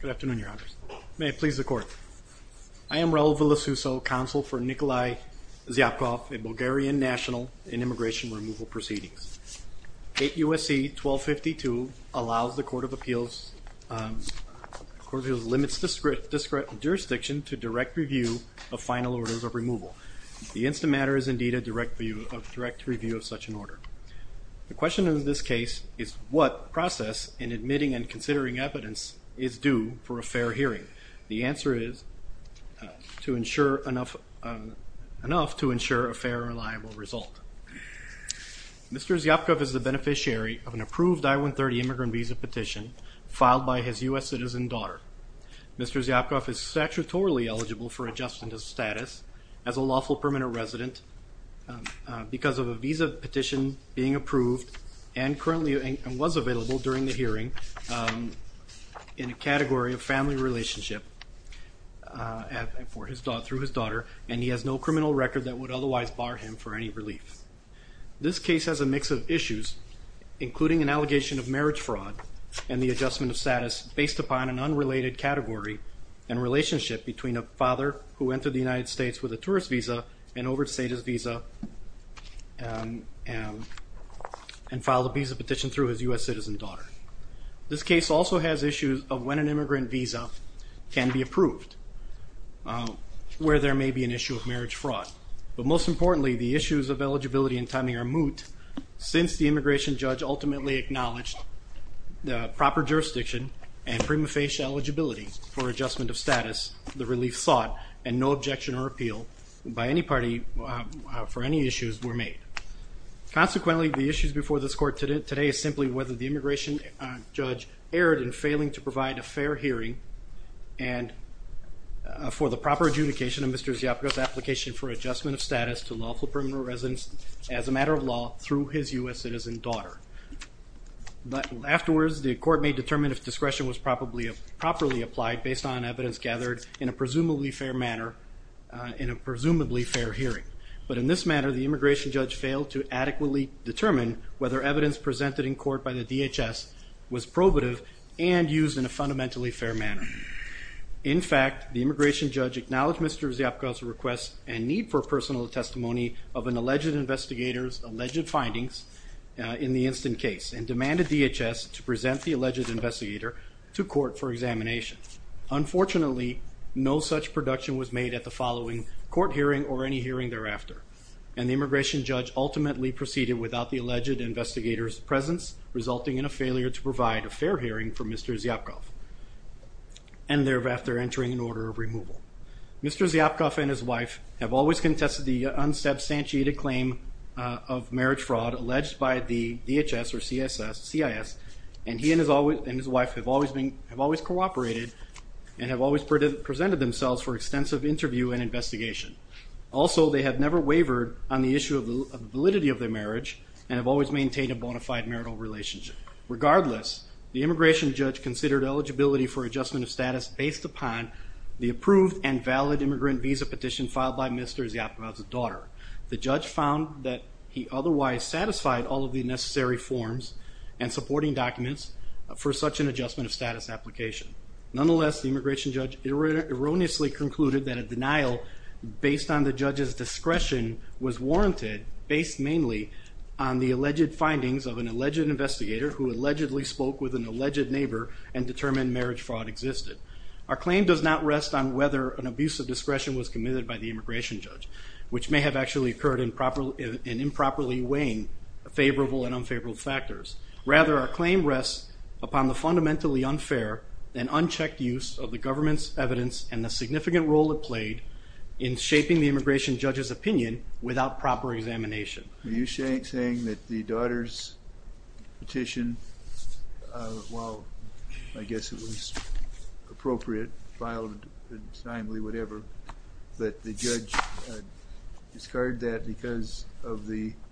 Good afternoon, Your Honors. May it please the Court. I am Raul Villasuso, Counsel for Nikolay Zyapkov at Bulgarian National in Immigration Removal Proceedings. 8 U.S.C. 1252 allows the Court of Appeals, the Court of Appeals limits jurisdiction to direct review of final orders of removal. The instant matter is indeed a direct review of such an order. The question in this case is what process in admitting and considering evidence is due for a fair hearing? The answer is to ensure enough to ensure a fair and reliable result. Mr. Zyapkov is the beneficiary of an approved I-130 immigrant visa petition filed by his U.S. citizen daughter. Mr. Zyapkov is statutorily eligible for adjustment of status as a lawful permanent resident because of a visa petition being approved and currently was available during the hearing in a category of family relationship through his daughter and he has no criminal record that would otherwise bar him for any relief. This case has a mix of issues including an allegation of marriage fraud and the adjustment of status based upon an unrelated category and relationship between a father who entered the United States with a tourist visa and overstayed his visa and filed a visa petition through his U.S. citizen daughter. This case also has issues of when an immigrant visa can be approved where there may be an issue of marriage fraud. But most importantly, the issues of eligibility and timing are moot since the immigration judge ultimately acknowledged the proper jurisdiction and prima facie eligibility for adjustment of status, the relief sought, and no objection or appeal by any party for any issues were made. Consequently, the issues before this court today is simply whether the immigration judge erred in failing to provide a fair hearing and for the proper adjudication of Mr. Ziapagos' application for adjustment of status to lawful permanent residents as a matter of law through his U.S. citizen daughter. Afterwards, the court may determine if discretion was properly applied based on evidence gathered in a presumably fair manner in a presumably fair hearing. But in this manner, the immigration judge failed to adequately determine whether evidence presented in court by the DHS was probative and used in a fundamentally fair manner. In fact, the immigration judge acknowledged Mr. Ziapagos' request and need for personal testimony of an alleged investigator's alleged findings in the instant case and demanded DHS to present the alleged investigator to court for examination. Unfortunately, no such production was made at the following court hearing or any hearing thereafter, and the immigration judge ultimately proceeded without the alleged investigator's presence, resulting in a failure to provide a fair hearing for Mr. Ziapagos, and thereafter entering an order of removal. Mr. Ziapagos and his wife have always contested the unsubstantiated claim of marriage fraud alleged by the DHS or CIS, and he and his wife have always cooperated and have always presented themselves for extensive interview and investigation. Also, they have never wavered on the issue of the validity of their marriage and have always maintained a bona fide marital relationship. Regardless, the immigration judge considered eligibility for adjustment of status based upon the approved and valid immigrant visa petition filed by Mr. Ziapagos' daughter. The judge found that he otherwise satisfied all of the necessary forms and supporting documents for such an adjustment of status application. Nonetheless, the immigration judge erroneously concluded that a denial based on the judge's discretion was warranted based mainly on the alleged findings of an alleged investigator who allegedly spoke with an alleged neighbor and determined marriage fraud existed. Our claim does not rest on whether an abuse of discretion was committed by the immigration judge, which may have actually occurred in improperly weighing favorable and unfavorable factors. Rather, our claim rests upon the fundamentally unfair and unchecked use of the government's evidence and the significant role it played in shaping the immigration judge's opinion without proper examination. Are you saying that the daughter's petition, while I guess it was appropriate, filed, but the judge discarded that because of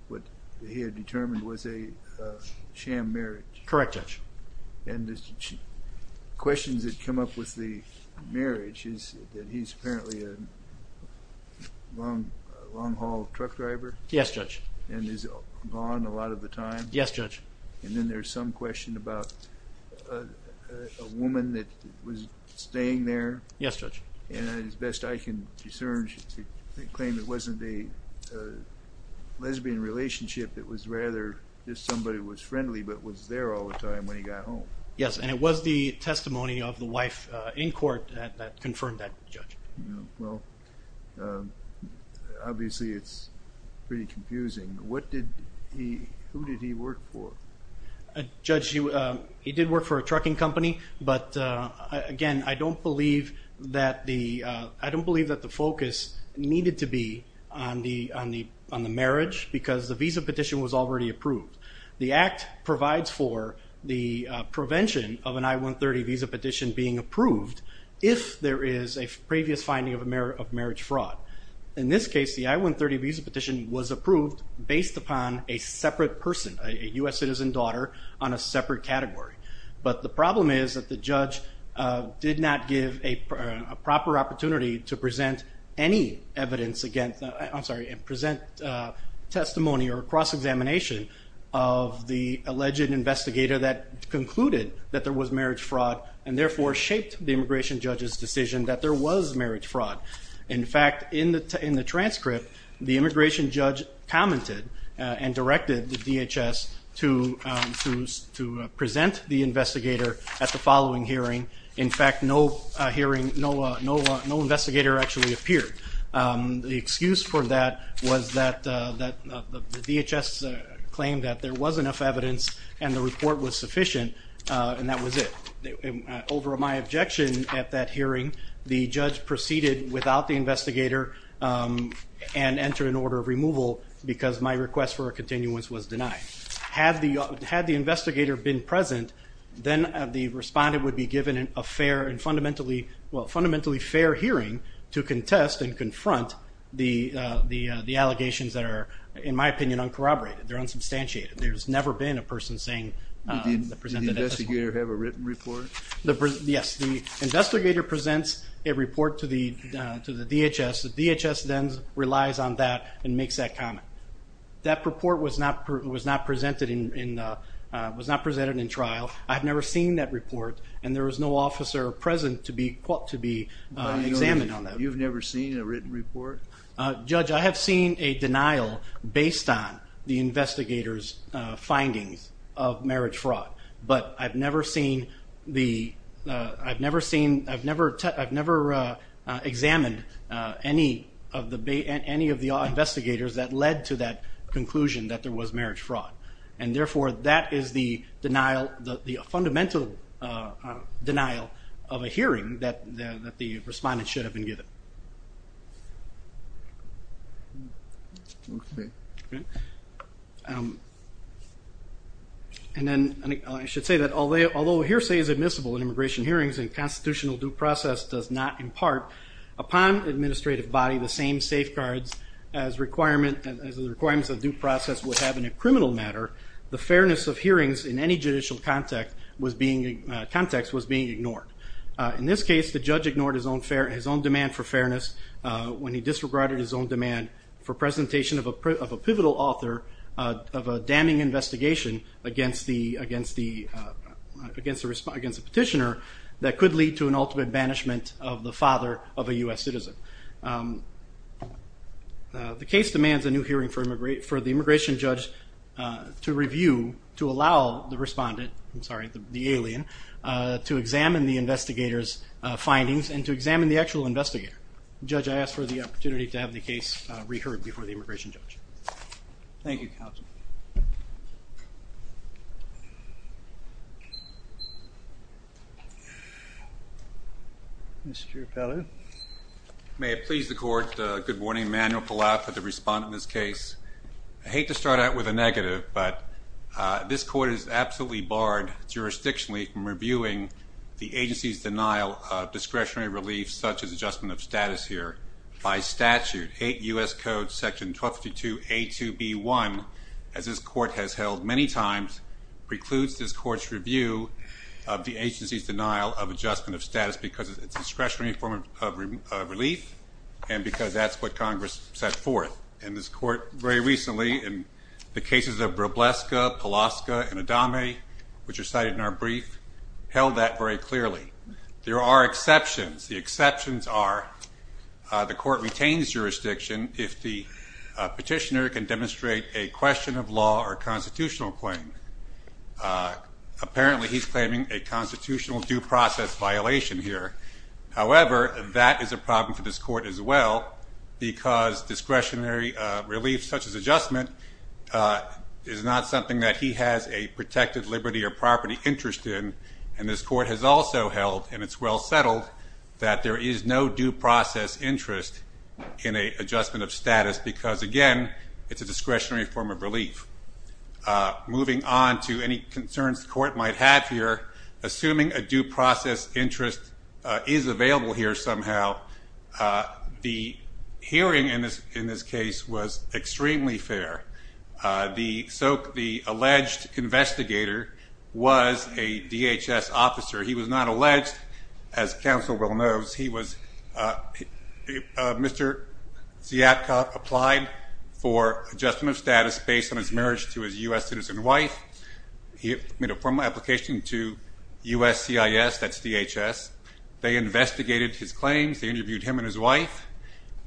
what he had determined was a sham marriage? Correct, Judge. And the questions that come up with the marriage is that he's apparently a long-haul truck driver? Yes, Judge. And is gone a lot of the time? Yes, Judge. And then there's some question about a woman that was staying there? Yes, Judge. And as best I can discern, she claimed it wasn't a lesbian relationship. It was rather just somebody who was friendly but was there all the time when he got home. Yes, and it was the testimony of the wife in court that confirmed that, Judge. Well, obviously it's pretty confusing. Who did he work for? Judge, he did work for a trucking company, but again I don't believe that the focus needed to be on the marriage because the visa petition was already approved. The Act provides for the prevention of an I-130 visa petition being approved if there is a previous finding of marriage fraud. In this case, the I-130 visa petition was approved based upon a separate person, a U.S. citizen daughter on a separate category. But the problem is that the judge did not give a proper opportunity to present any evidence against, I'm sorry, present testimony or cross-examination of the alleged investigator that concluded that there was marriage fraud and therefore shaped the immigration judge's decision that there was marriage fraud. In fact, in the transcript, the immigration judge commented and directed the DHS to present the investigator at the following hearing. In fact, no investigator actually appeared. The excuse for that was that the DHS claimed that there was enough evidence and the report was sufficient and that was it. Over my objection at that hearing, the judge proceeded without the investigator and entered an order of removal because my request for a continuance was denied. Had the investigator been present, then the respondent would be given a fundamentally fair hearing to contest and confront the allegations that are, in my opinion, uncorroborated. They're unsubstantiated. There's never been a person saying that presented at this point. Did the investigator have a written report? Yes. The investigator presents a report to the DHS. The DHS then relies on that and makes that comment. That report was not presented in trial. I've never seen that report, and there was no officer present to be examined on that. You've never seen a written report? Judge, I have seen a denial based on the investigator's findings of marriage fraud, but I've never examined any of the investigators that led to that conclusion that there was marriage fraud. Therefore, that is the fundamental denial of a hearing that the respondent should have been given. I should say that although a hearsay is admissible in immigration hearings and constitutional due process does not impart upon the administrative body the same safeguards as the requirements of due process would have in a criminal matter, the fairness of hearings in any judicial context was being ignored. In this case, the judge ignored his own demand for fairness when he disregarded his own demand for presentation of a pivotal author of a damning investigation against the petitioner that could lead to an ultimate banishment of the father of a U.S. citizen. The case demands a new hearing for the immigration judge to review, to allow the respondent, I'm sorry, the alien, to examine the investigator's findings and to examine the actual investigator. Judge, I ask for the opportunity to have the case reheard before the immigration judge. Thank you, counsel. Mr. Appellate. May it please the court, good morning. Manuel Palau for the respondent in this case. I hate to start out with a negative, but this court is absolutely barred jurisdictionally from reviewing the agency's denial of discretionary relief such as adjustment of status here. By statute, 8 U.S. Code section 1252A2B1, as this court has held many times, precludes this court's review of the agency's denial of adjustment of status because it's discretionary form of relief and because that's what Congress set forth. And this court very recently, in the cases of Brobleska, Palaska, and Adame, which are cited in our brief, held that very clearly. There are exceptions. The exceptions are the court retains jurisdiction if the petitioner can demonstrate a question of law or a constitutional claim. Apparently he's claiming a constitutional due process violation here. However, that is a problem for this court as well because discretionary relief such as adjustment is not something that he has a protected liberty or property interest in, and this court has also held, and it's well settled, that there is no due process interest in an adjustment of status because, again, it's a discretionary form of relief. Moving on to any concerns the court might have here, assuming a due process interest is available here somehow, the hearing in this case was extremely fair. The alleged investigator was a DHS officer. He was not alleged. As counsel well knows, he was Mr. Ziatkov, applied for adjustment of status based on his marriage to his U.S. citizen wife. He made a formal application to USCIS, that's DHS. They interviewed him and his wife.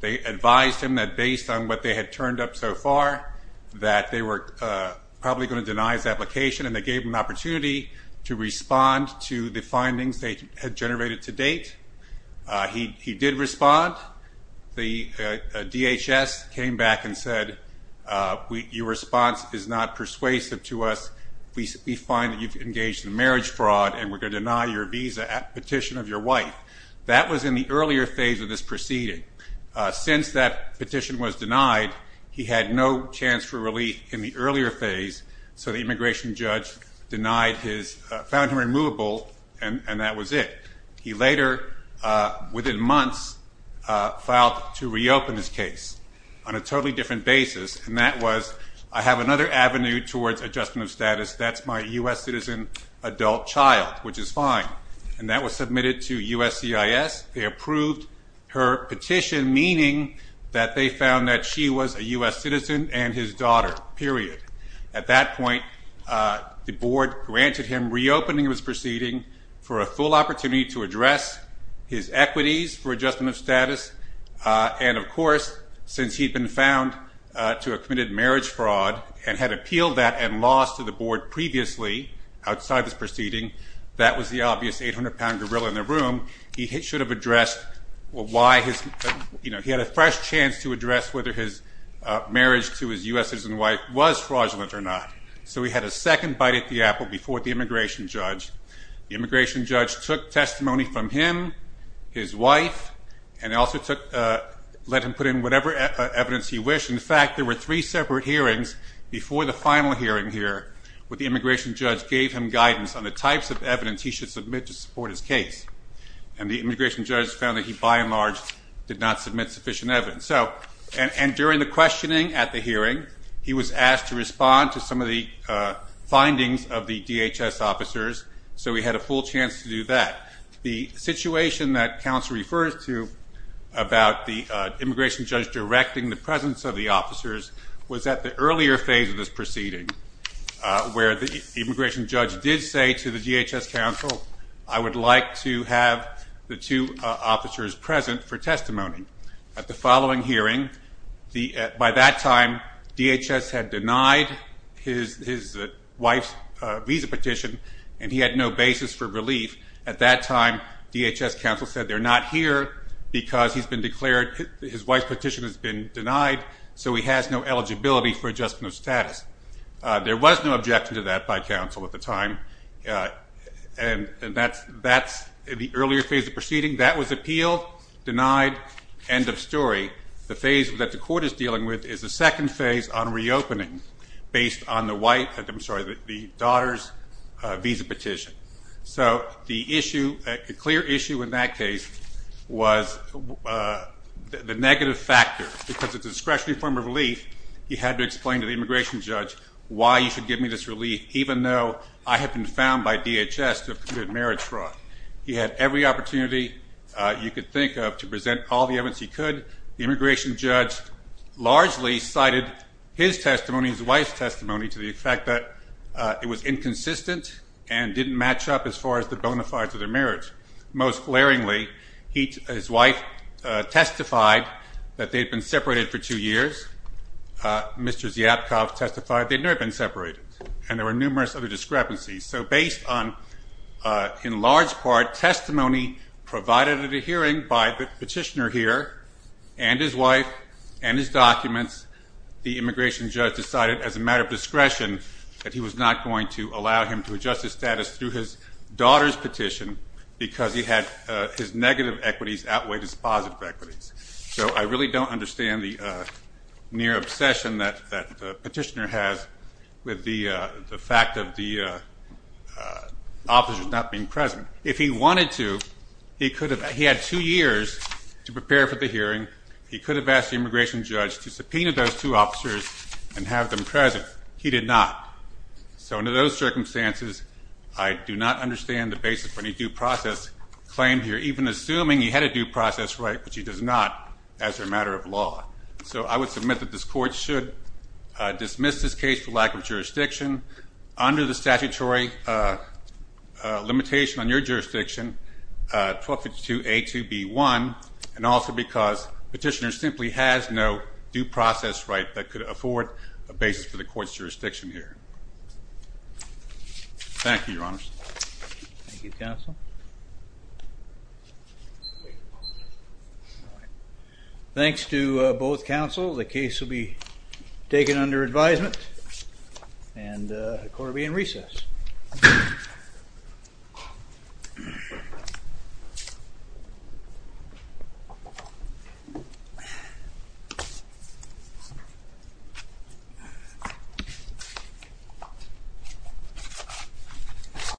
They advised him that based on what they had turned up so far, that they were probably going to deny his application, and they gave him an opportunity to respond to the findings they had generated to date. He did respond. The DHS came back and said, your response is not persuasive to us. We find that you've engaged in marriage fraud, and we're going to deny your visa petition of your wife. That was in the earlier phase of this proceeding. Since that petition was denied, he had no chance for relief in the earlier phase, so the immigration judge found him removable, and that was it. He later, within months, filed to reopen his case on a totally different basis, and that was, I have another avenue towards adjustment of status. That's my U.S. citizen adult child, which is fine. And that was submitted to USCIS. They approved her petition, meaning that they found that she was a U.S. citizen and his daughter, period. At that point, the board granted him reopening of his proceeding for a full opportunity to address his equities for adjustment of status, and of course, since he'd been found to have committed marriage fraud and had appealed that and lost to the board previously outside this proceeding, that was the obvious 800-pound gorilla in the room. He had a fresh chance to address whether his marriage to his U.S. citizen wife was fraudulent or not, so he had a second bite at the apple before the immigration judge. The immigration judge took testimony from him, his wife, and also let him put in whatever evidence he wished. In fact, there were three separate hearings before the final hearing here where the immigration judge gave him guidance on the types of evidence he should submit to support his case, and the immigration judge found that he, by and large, did not submit sufficient evidence. And during the questioning at the hearing, he was asked to respond to some of the findings of the DHS officers, so he had a full chance to do that. The situation that counsel refers to about the immigration judge directing the presence of the officers was at the earlier phase of this proceeding where the immigration judge did say to the DHS counsel, I would like to have the two officers present for testimony. At the following hearing, by that time, DHS had denied his wife's visa petition, and he had no basis for relief. At that time, DHS counsel said they're not here because his wife's petition has been denied, so he has no eligibility for adjustment of status. There was no objection to that by counsel at the time, and that's the earlier phase of the proceeding. That was appealed, denied, end of story. The phase that the court is dealing with is the second phase on reopening based on the daughter's visa petition. So the issue, a clear issue in that case, was the negative factor. Because it's a discretionary form of relief, he had to explain to the immigration judge why he should give me this relief, even though I have been found by DHS to have committed marriage fraud. He had every opportunity you could think of to present all the evidence he could. The immigration judge largely cited his testimony, his wife's testimony, to the fact that it was inconsistent and didn't match up as far as the bona fides of their marriage. Most glaringly, his wife testified that they had been separated for two years. Mr. Zyapkov testified they had never been separated, and there were numerous other discrepancies. So based on, in large part, testimony provided at a hearing by the petitioner here and his wife and his documents, the immigration judge decided, as a matter of discretion, that he was not going to allow him to adjust his status through his daughter's petition because his negative equities outweighed his positive equities. So I really don't understand the near obsession that the petitioner has with the fact of the officers not being present. If he wanted to, he had two years to prepare for the hearing. He could have asked the immigration judge to subpoena those two officers and have them present. He did not. So under those circumstances, I do not understand the basis for any due process claimed here, even assuming he had a due process right, which he does not as a matter of law. So I would submit that this Court should dismiss this case for lack of jurisdiction. under the statutory limitation on your jurisdiction, 1252A2B1, and also because the petitioner simply has no due process right that could afford a basis for the Court's jurisdiction here. Thank you, Your Honors. Thank you, Counsel. Thanks to both counsel. The case will be taken under advisement and the Court will be in recess.